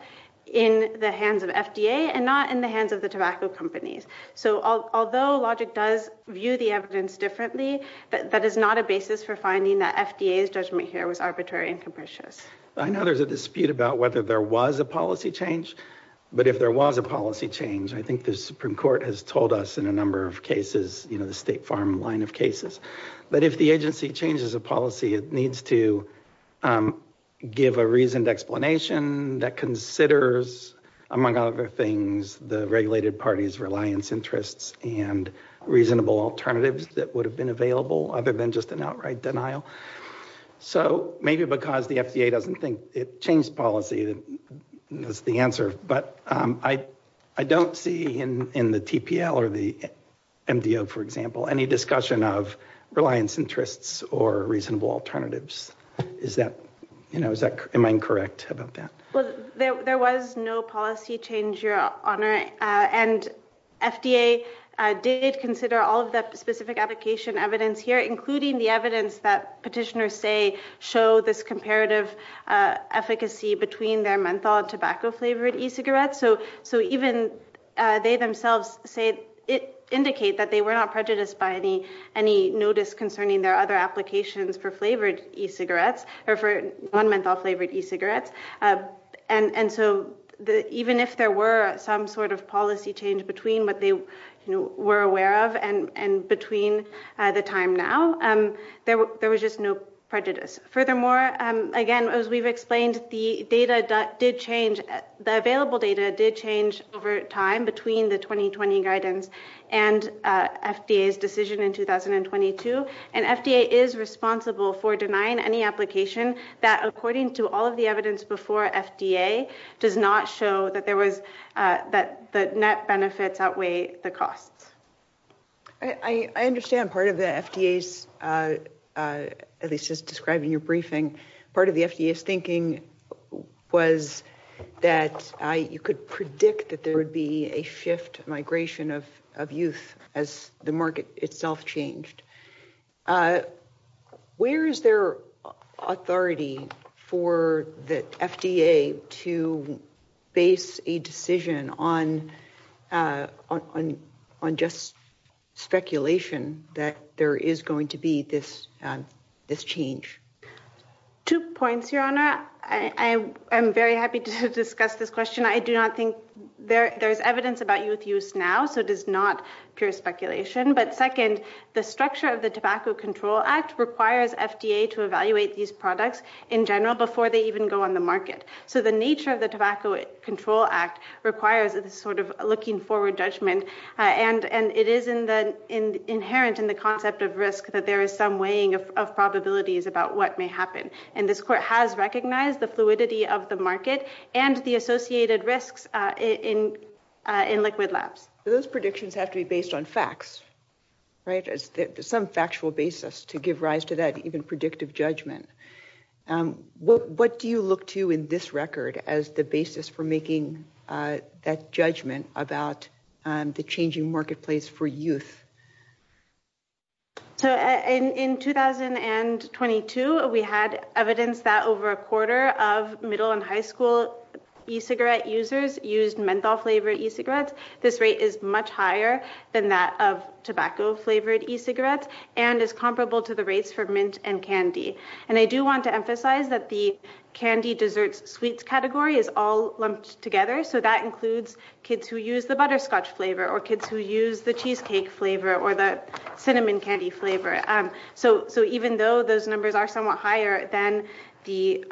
in the hands of FDA and not in the hands of the tobacco companies. So although Logic does view the evidence differently, that is not a basis for finding that FDA's judgment here was arbitrary and capricious. I know there's a dispute about whether there was a policy change, but if there was a policy change, I think the Supreme Court has told us in a number of cases, you know, the State Farm line of cases, that if the agency changes a policy, it needs to give a reasoned explanation that considers, among other things, the regulated party's reliance interests and reasonable alternatives that would have been available other than just an outright denial. So maybe because the FDA doesn't think it changed policy, that's the answer, but I don't see in the TPL or the MDO, for example, any discussion of reliance interests or reasonable alternatives. Is that, you know, am I incorrect about that? Well, there was no policy change, Your Honor, and FDA did consider all of the specific application evidence here, including the evidence that petitioners say show this comparative efficacy between their menthol and tobacco-flavored e-cigarettes. So even they themselves indicate that they were not prejudiced by any notice concerning their other applications for flavored e-cigarettes or for non-menthol-flavored e-cigarettes. And so even if there were some sort of policy change between what they were aware of and between the time now, there was just no prejudice. Furthermore, again, as we've explained, the available data did change over time between the 2020 guidance and FDA's decision in 2022, and FDA is responsible for denying any application that, according to all of the evidence before FDA, does not show that the net benefits outweigh the costs. I understand part of the FDA's, at least as described in your briefing, part of the FDA's thinking was that you could predict that there would be a shift, migration of youth as the market itself changed. Where is there authority for the FDA to base a decision on just speculation that there is going to be this change? Two points, Your Honor. I'm very happy to discuss this question. I do not think there's evidence about youth use now, so it is not pure speculation. But second, the structure of the Tobacco Control Act requires FDA to evaluate these products in general before they even go on the market. So the nature of the Tobacco Control Act requires this sort of looking-forward judgment, and it is inherent in the concept of risk that there is some weighing of probabilities about what may happen. And this Court has recognized the fluidity of the market and the associated risks in liquid labs. Those predictions have to be based on facts, right, as some factual basis to give rise to that even predictive judgment. What do you look to in this record as the basis for making that judgment about the changing marketplace for youth? So in 2022, we had evidence that over a quarter of middle and high school e-cigarette users used menthol-flavored e-cigarettes. This rate is much higher than that of tobacco-flavored e-cigarettes and is comparable to the rates for mint and candy. And I do want to emphasize that the candy, desserts, sweets category is all lumped together. So that includes kids who use the butterscotch flavor or kids who use the cheesecake flavor or the cinnamon candy flavor. So even though those numbers are somewhat higher than the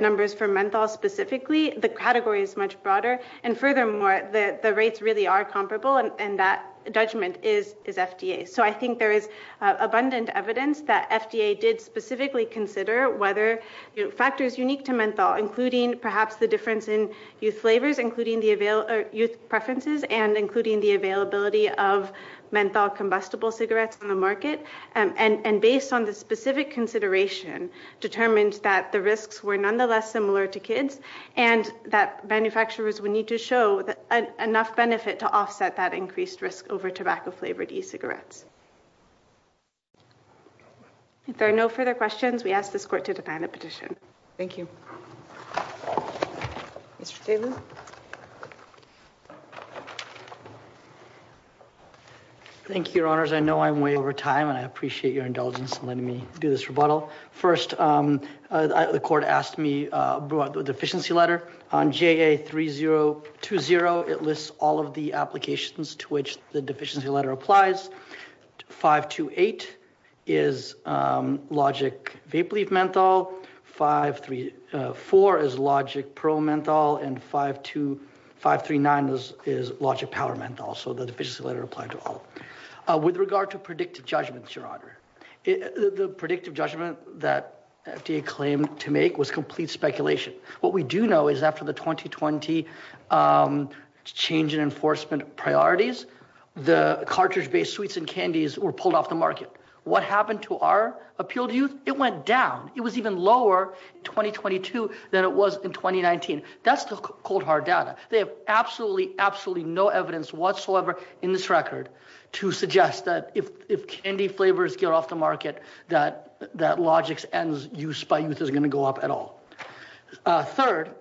numbers for menthol specifically, the category is much broader. And furthermore, the rates really are comparable and that judgment is FDA. So I think there is abundant evidence that FDA did specifically consider whether factors unique to menthol, including perhaps the difference in youth flavors, including the youth preferences, and including the availability of menthol combustible cigarettes on the market. And based on the specific consideration, determined that the risks were nonetheless similar to kids and that manufacturers would need to show enough benefit to offset that increased risk over tobacco-flavored e-cigarettes. If there are no further questions, we ask this court to define a petition. Thank you. Mr. Taylor. Thank you, Your Honors. I know I'm way over time and I appreciate your indulgence in letting me do this rebuttal. First, the court asked me for the deficiency letter on JA3020. It lists all of the applications to which the deficiency letter applies. 528 is logic vape-leaf menthol, 534 is logic pro menthol, and 539 is logic power menthol. So the deficiency letter applied to all. With regard to predictive judgments, Your Honor, the predictive judgment that FDA claimed to make was complete speculation. What we do know is after the 2020 change in enforcement priorities, the cartridge-based sweets and candies were pulled off the market. What happened to our appeal to youth? It went down. It was even lower in 2022 than it was in 2019. That's the cold, hard data. They have absolutely, absolutely no evidence whatsoever in this record to suggest that if candy flavors get off the market, that Logix ends use by youth isn't going to go up at all. Third,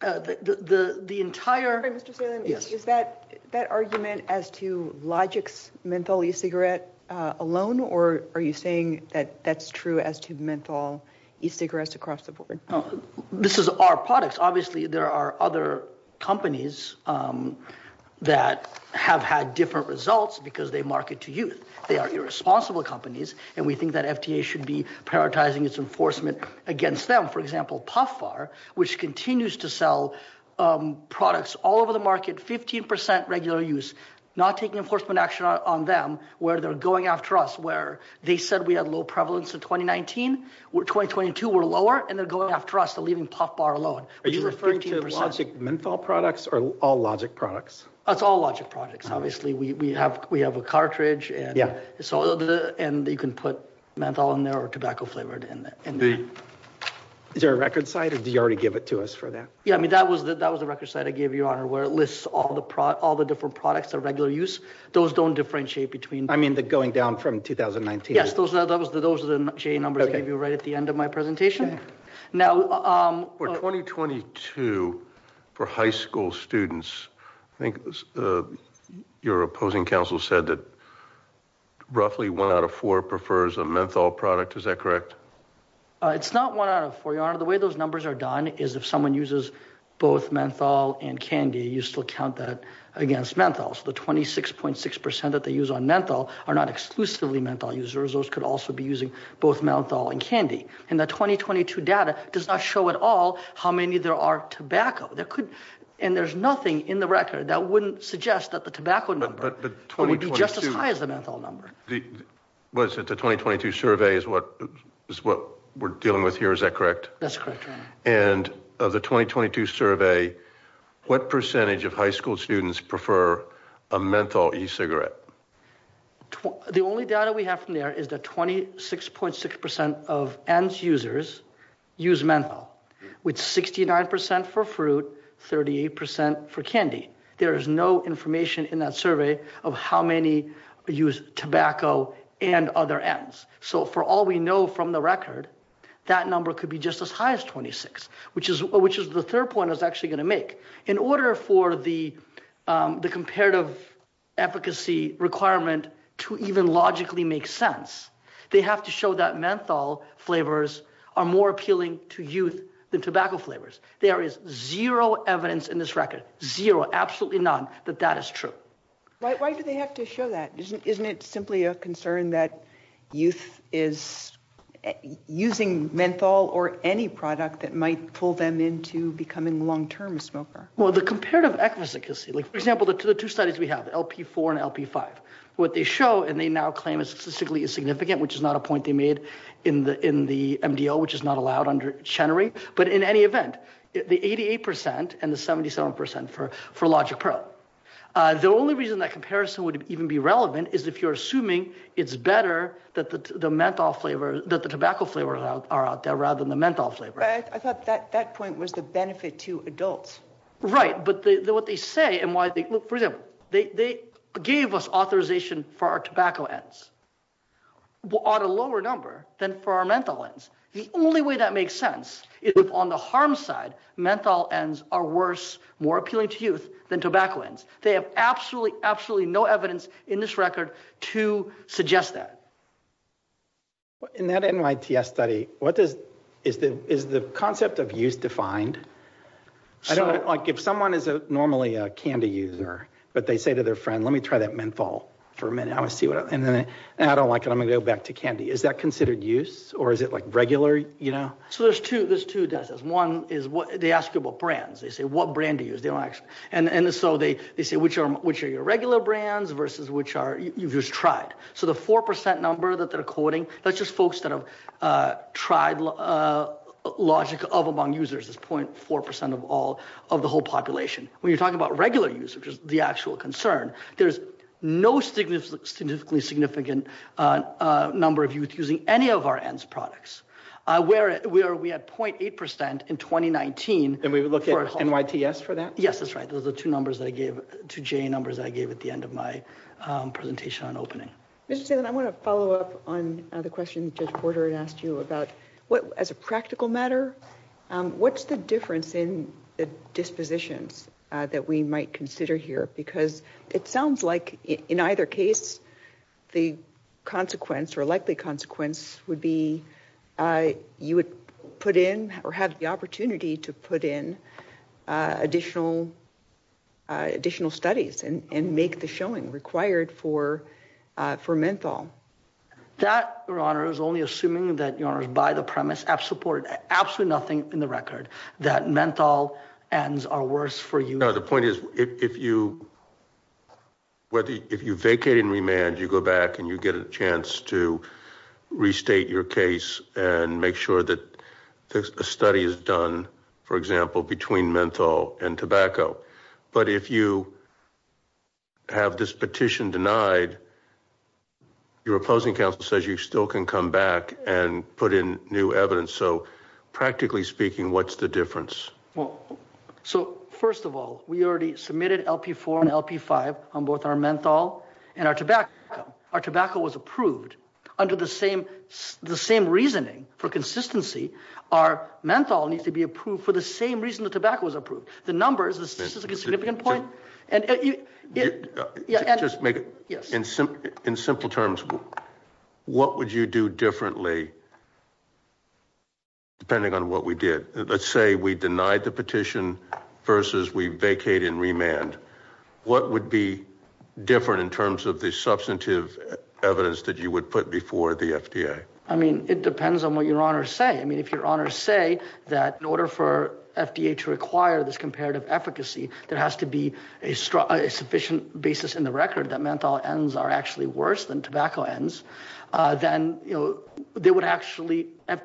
the entire... Is that argument as to Logix menthol e-cigarette alone, or are you saying that that's true as to menthol e-cigarettes across the board? This is our products. Obviously, there are other companies that have had different results because they market to youth. They are irresponsible companies, and we think that FDA should be prioritizing its enforcement against them. For example, Puff Bar, which continues to sell products all over the market, 15% regular use, not taking enforcement action on them, where they're going after us. They said we had low prevalence in 2019. In 2022, we're lower, and they're going after us. They're leaving Puff Bar alone, which is 15%. Are you referring to Logix menthol products or all Logix products? It's all Logix products, obviously. We have a cartridge, and you can put menthol in there or tobacco-flavored in there. Is there a record site, or did you already give it to us for that? Yeah, that was the record site I gave you, Your Honor, where it lists all the different products of regular use. Those don't differentiate between... I mean going down from 2019. Yes, those are the numbers I gave you right at the end of my presentation. For 2022, for high school students, I think your opposing counsel said that roughly one out of four prefers a menthol product. Is that correct? It's not one out of four, Your Honor. The way those numbers are done is if someone uses both menthol and candy, you still count that against menthol. So the 26.6% that they use on menthol are not exclusively menthol users. Those could also be using both menthol and candy. And the 2022 data does not show at all how many there are tobacco. And there's nothing in the record that wouldn't suggest that the tobacco number would be just as high as the menthol number. Was it the 2022 survey is what we're dealing with here, is that correct? That's correct, Your Honor. And of the 2022 survey, what percentage of high school students prefer a menthol e-cigarette? The only data we have from there is that 26.6% of ENDS users use menthol, with 69% for fruit, 38% for candy. There is no information in that survey of how many use tobacco and other ENDS. So for all we know from the record, that number could be just as high as 26, which is the third point I was actually going to make. In order for the comparative efficacy requirement to even logically make sense, they have to show that menthol flavors are more appealing to youth than tobacco flavors. There is zero evidence in this record, zero, absolutely none, that that is true. Why do they have to show that? Isn't it simply a concern that youth is using menthol or any product that might pull them into becoming long-term smokers? Well, the comparative efficacy, for example, the two studies we have, LP4 and LP5, what they show and they now claim is statistically insignificant, which is not a point they made in the MDO, which is not allowed under Chenery, but in any event, the 88% and the 77% for Logic Pro. The only reason that comparison would even be relevant is if you're assuming it's better that the tobacco flavors are out there rather than the menthol flavor. I thought that point was the benefit to adults. Right, but what they say and why they, for example, they gave us authorization for our tobacco ENDS on a lower number than for our menthol ENDS. The only way that makes sense is if on the harm side, menthol ENDS are worse, more appealing to youth than tobacco ENDS. They have absolutely, absolutely no evidence in this record to suggest that. In that NYTS study, what does, is the concept of use defined? Like if someone is normally a candy user, but they say to their friend, let me try that menthol for a minute. I don't like it. I'm going to go back to candy. Is that considered use or is it like regular, you know? So there's two, there's two decimals. One is what they ask you about brands. They say, what brand do you use? And so they say, which are your regular brands versus which are, you've just tried. So the 4% number that they're quoting, that's just folks that have tried Logic of among users is 0.4% of all of the whole population. When you're talking about regular use, which is the actual concern, there's no significantly significant number of youth using any of our ENDS products. Where we are, we had 0.8% in 2019. And we would look at NYTS for that? Yes, that's right. Those are the two numbers that I gave, two J numbers I gave at the end of my presentation on opening. I want to follow up on the question that Judge Porter had asked you about what as a practical matter. What's the difference in the dispositions that we might consider here? Because it sounds like in either case, the consequence or likely consequence would be, you would put in or have the opportunity to put in additional studies and make the showing required for menthol. That, Your Honor, is only assuming that, Your Honor, is by the premise, absolutely nothing in the record, that menthol ENDS are worse for youth. No, the point is, if you vacate and remand, you go back and you get a chance to restate your case and make sure that a study is done, for example, between menthol and tobacco. But if you have this petition denied, your opposing counsel says you still can come back and put in new evidence. So, practically speaking, what's the difference? So, first of all, we already submitted LP4 and LP5 on both our menthol and our tobacco. Our tobacco was approved under the same reasoning for consistency. Our menthol needs to be approved for the same reason the tobacco was approved. The numbers, this is a significant point. In simple terms, what would you do differently, depending on what we did? Let's say we denied the petition versus we vacated and remanded. What would be different in terms of the substantive evidence that you would put before the FDA? I mean, it depends on what your honors say. I mean, if your honors say that in order for FDA to require this comparative efficacy, there has to be a sufficient basis in the record that menthol ENDS are actually worse than tobacco ENDS, then there would actually have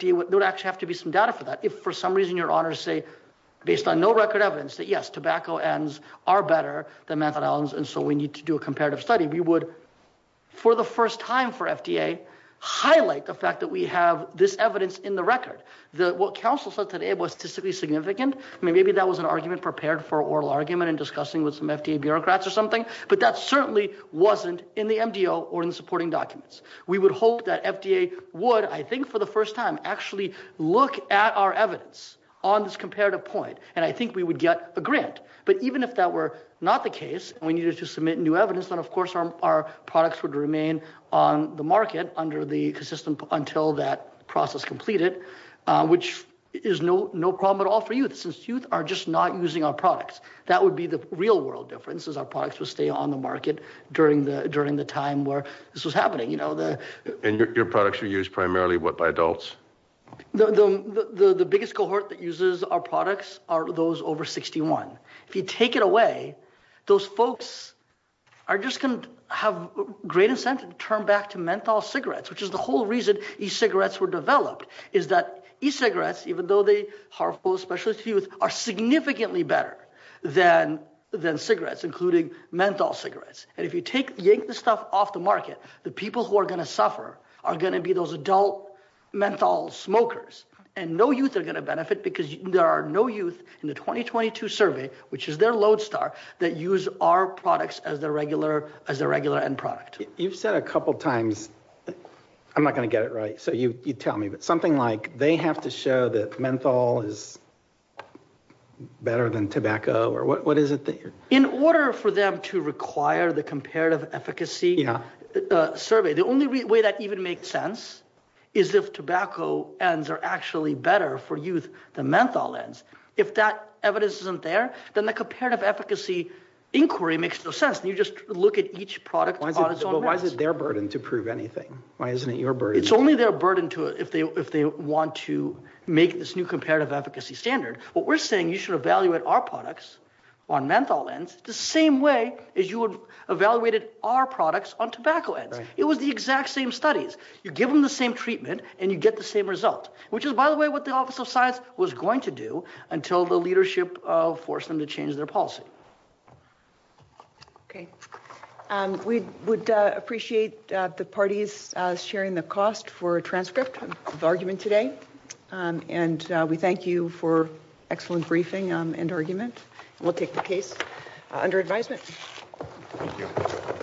to be some data for that. If for some reason your honors say, based on no record evidence, that yes, tobacco ENDS are better than menthol ENDS, and so we need to do a comparative study, we would, for the first time for FDA, highlight the fact that we have this evidence in the record. What counsel said today was statistically significant. I mean, maybe that was an argument prepared for oral argument and discussing with some FDA bureaucrats or something, but that certainly wasn't in the MDO or in supporting documents. We would hope that FDA would, I think for the first time, actually look at our evidence on this comparative point, and I think we would get a grant. But even if that were not the case and we needed to submit new evidence, then of course our products would remain on the market until that process completed, which is no problem at all for youth, since youth are just not using our products. That would be the real world difference, is our products would stay on the market during the time where this was happening. And your products are used primarily, what, by adults? The biggest cohort that uses our products are those over 61. If you take it away, those folks are just going to have great incentive to turn back to menthol cigarettes, which is the whole reason e-cigarettes were developed, is that e-cigarettes, even though they are full of specialist use, are significantly better than cigarettes, including menthol cigarettes. And if you take the stuff off the market, the people who are going to suffer are going to be those adult menthol smokers, and no youth are going to benefit because there are no youth in the 2022 survey, which is their lodestar, that use our products as their regular end product. You've said a couple times, I'm not going to get it right, so you tell me, but something like they have to show that menthol is better than tobacco, or what is it? In order for them to require the comparative efficacy survey, the only way that even makes sense is if tobacco ends are actually better for youth than menthol ends. If that evidence isn't there, then the comparative efficacy inquiry makes no sense. You just look at each product on its own merits. But why is it their burden to prove anything? Why isn't it your burden? It's only their burden if they want to make this new comparative efficacy standard. What we're saying is you should evaluate our products on menthol ends the same way as you would evaluate our products on tobacco ends. It was the exact same studies. You give them the same treatment, and you get the same result, which is, by the way, what the Office of Science was going to do until the leadership forced them to change their policy. Okay. We would appreciate the parties sharing the cost for a transcript of argument today. And we thank you for excellent briefing and argument. We'll take the case under advisement. Thank you.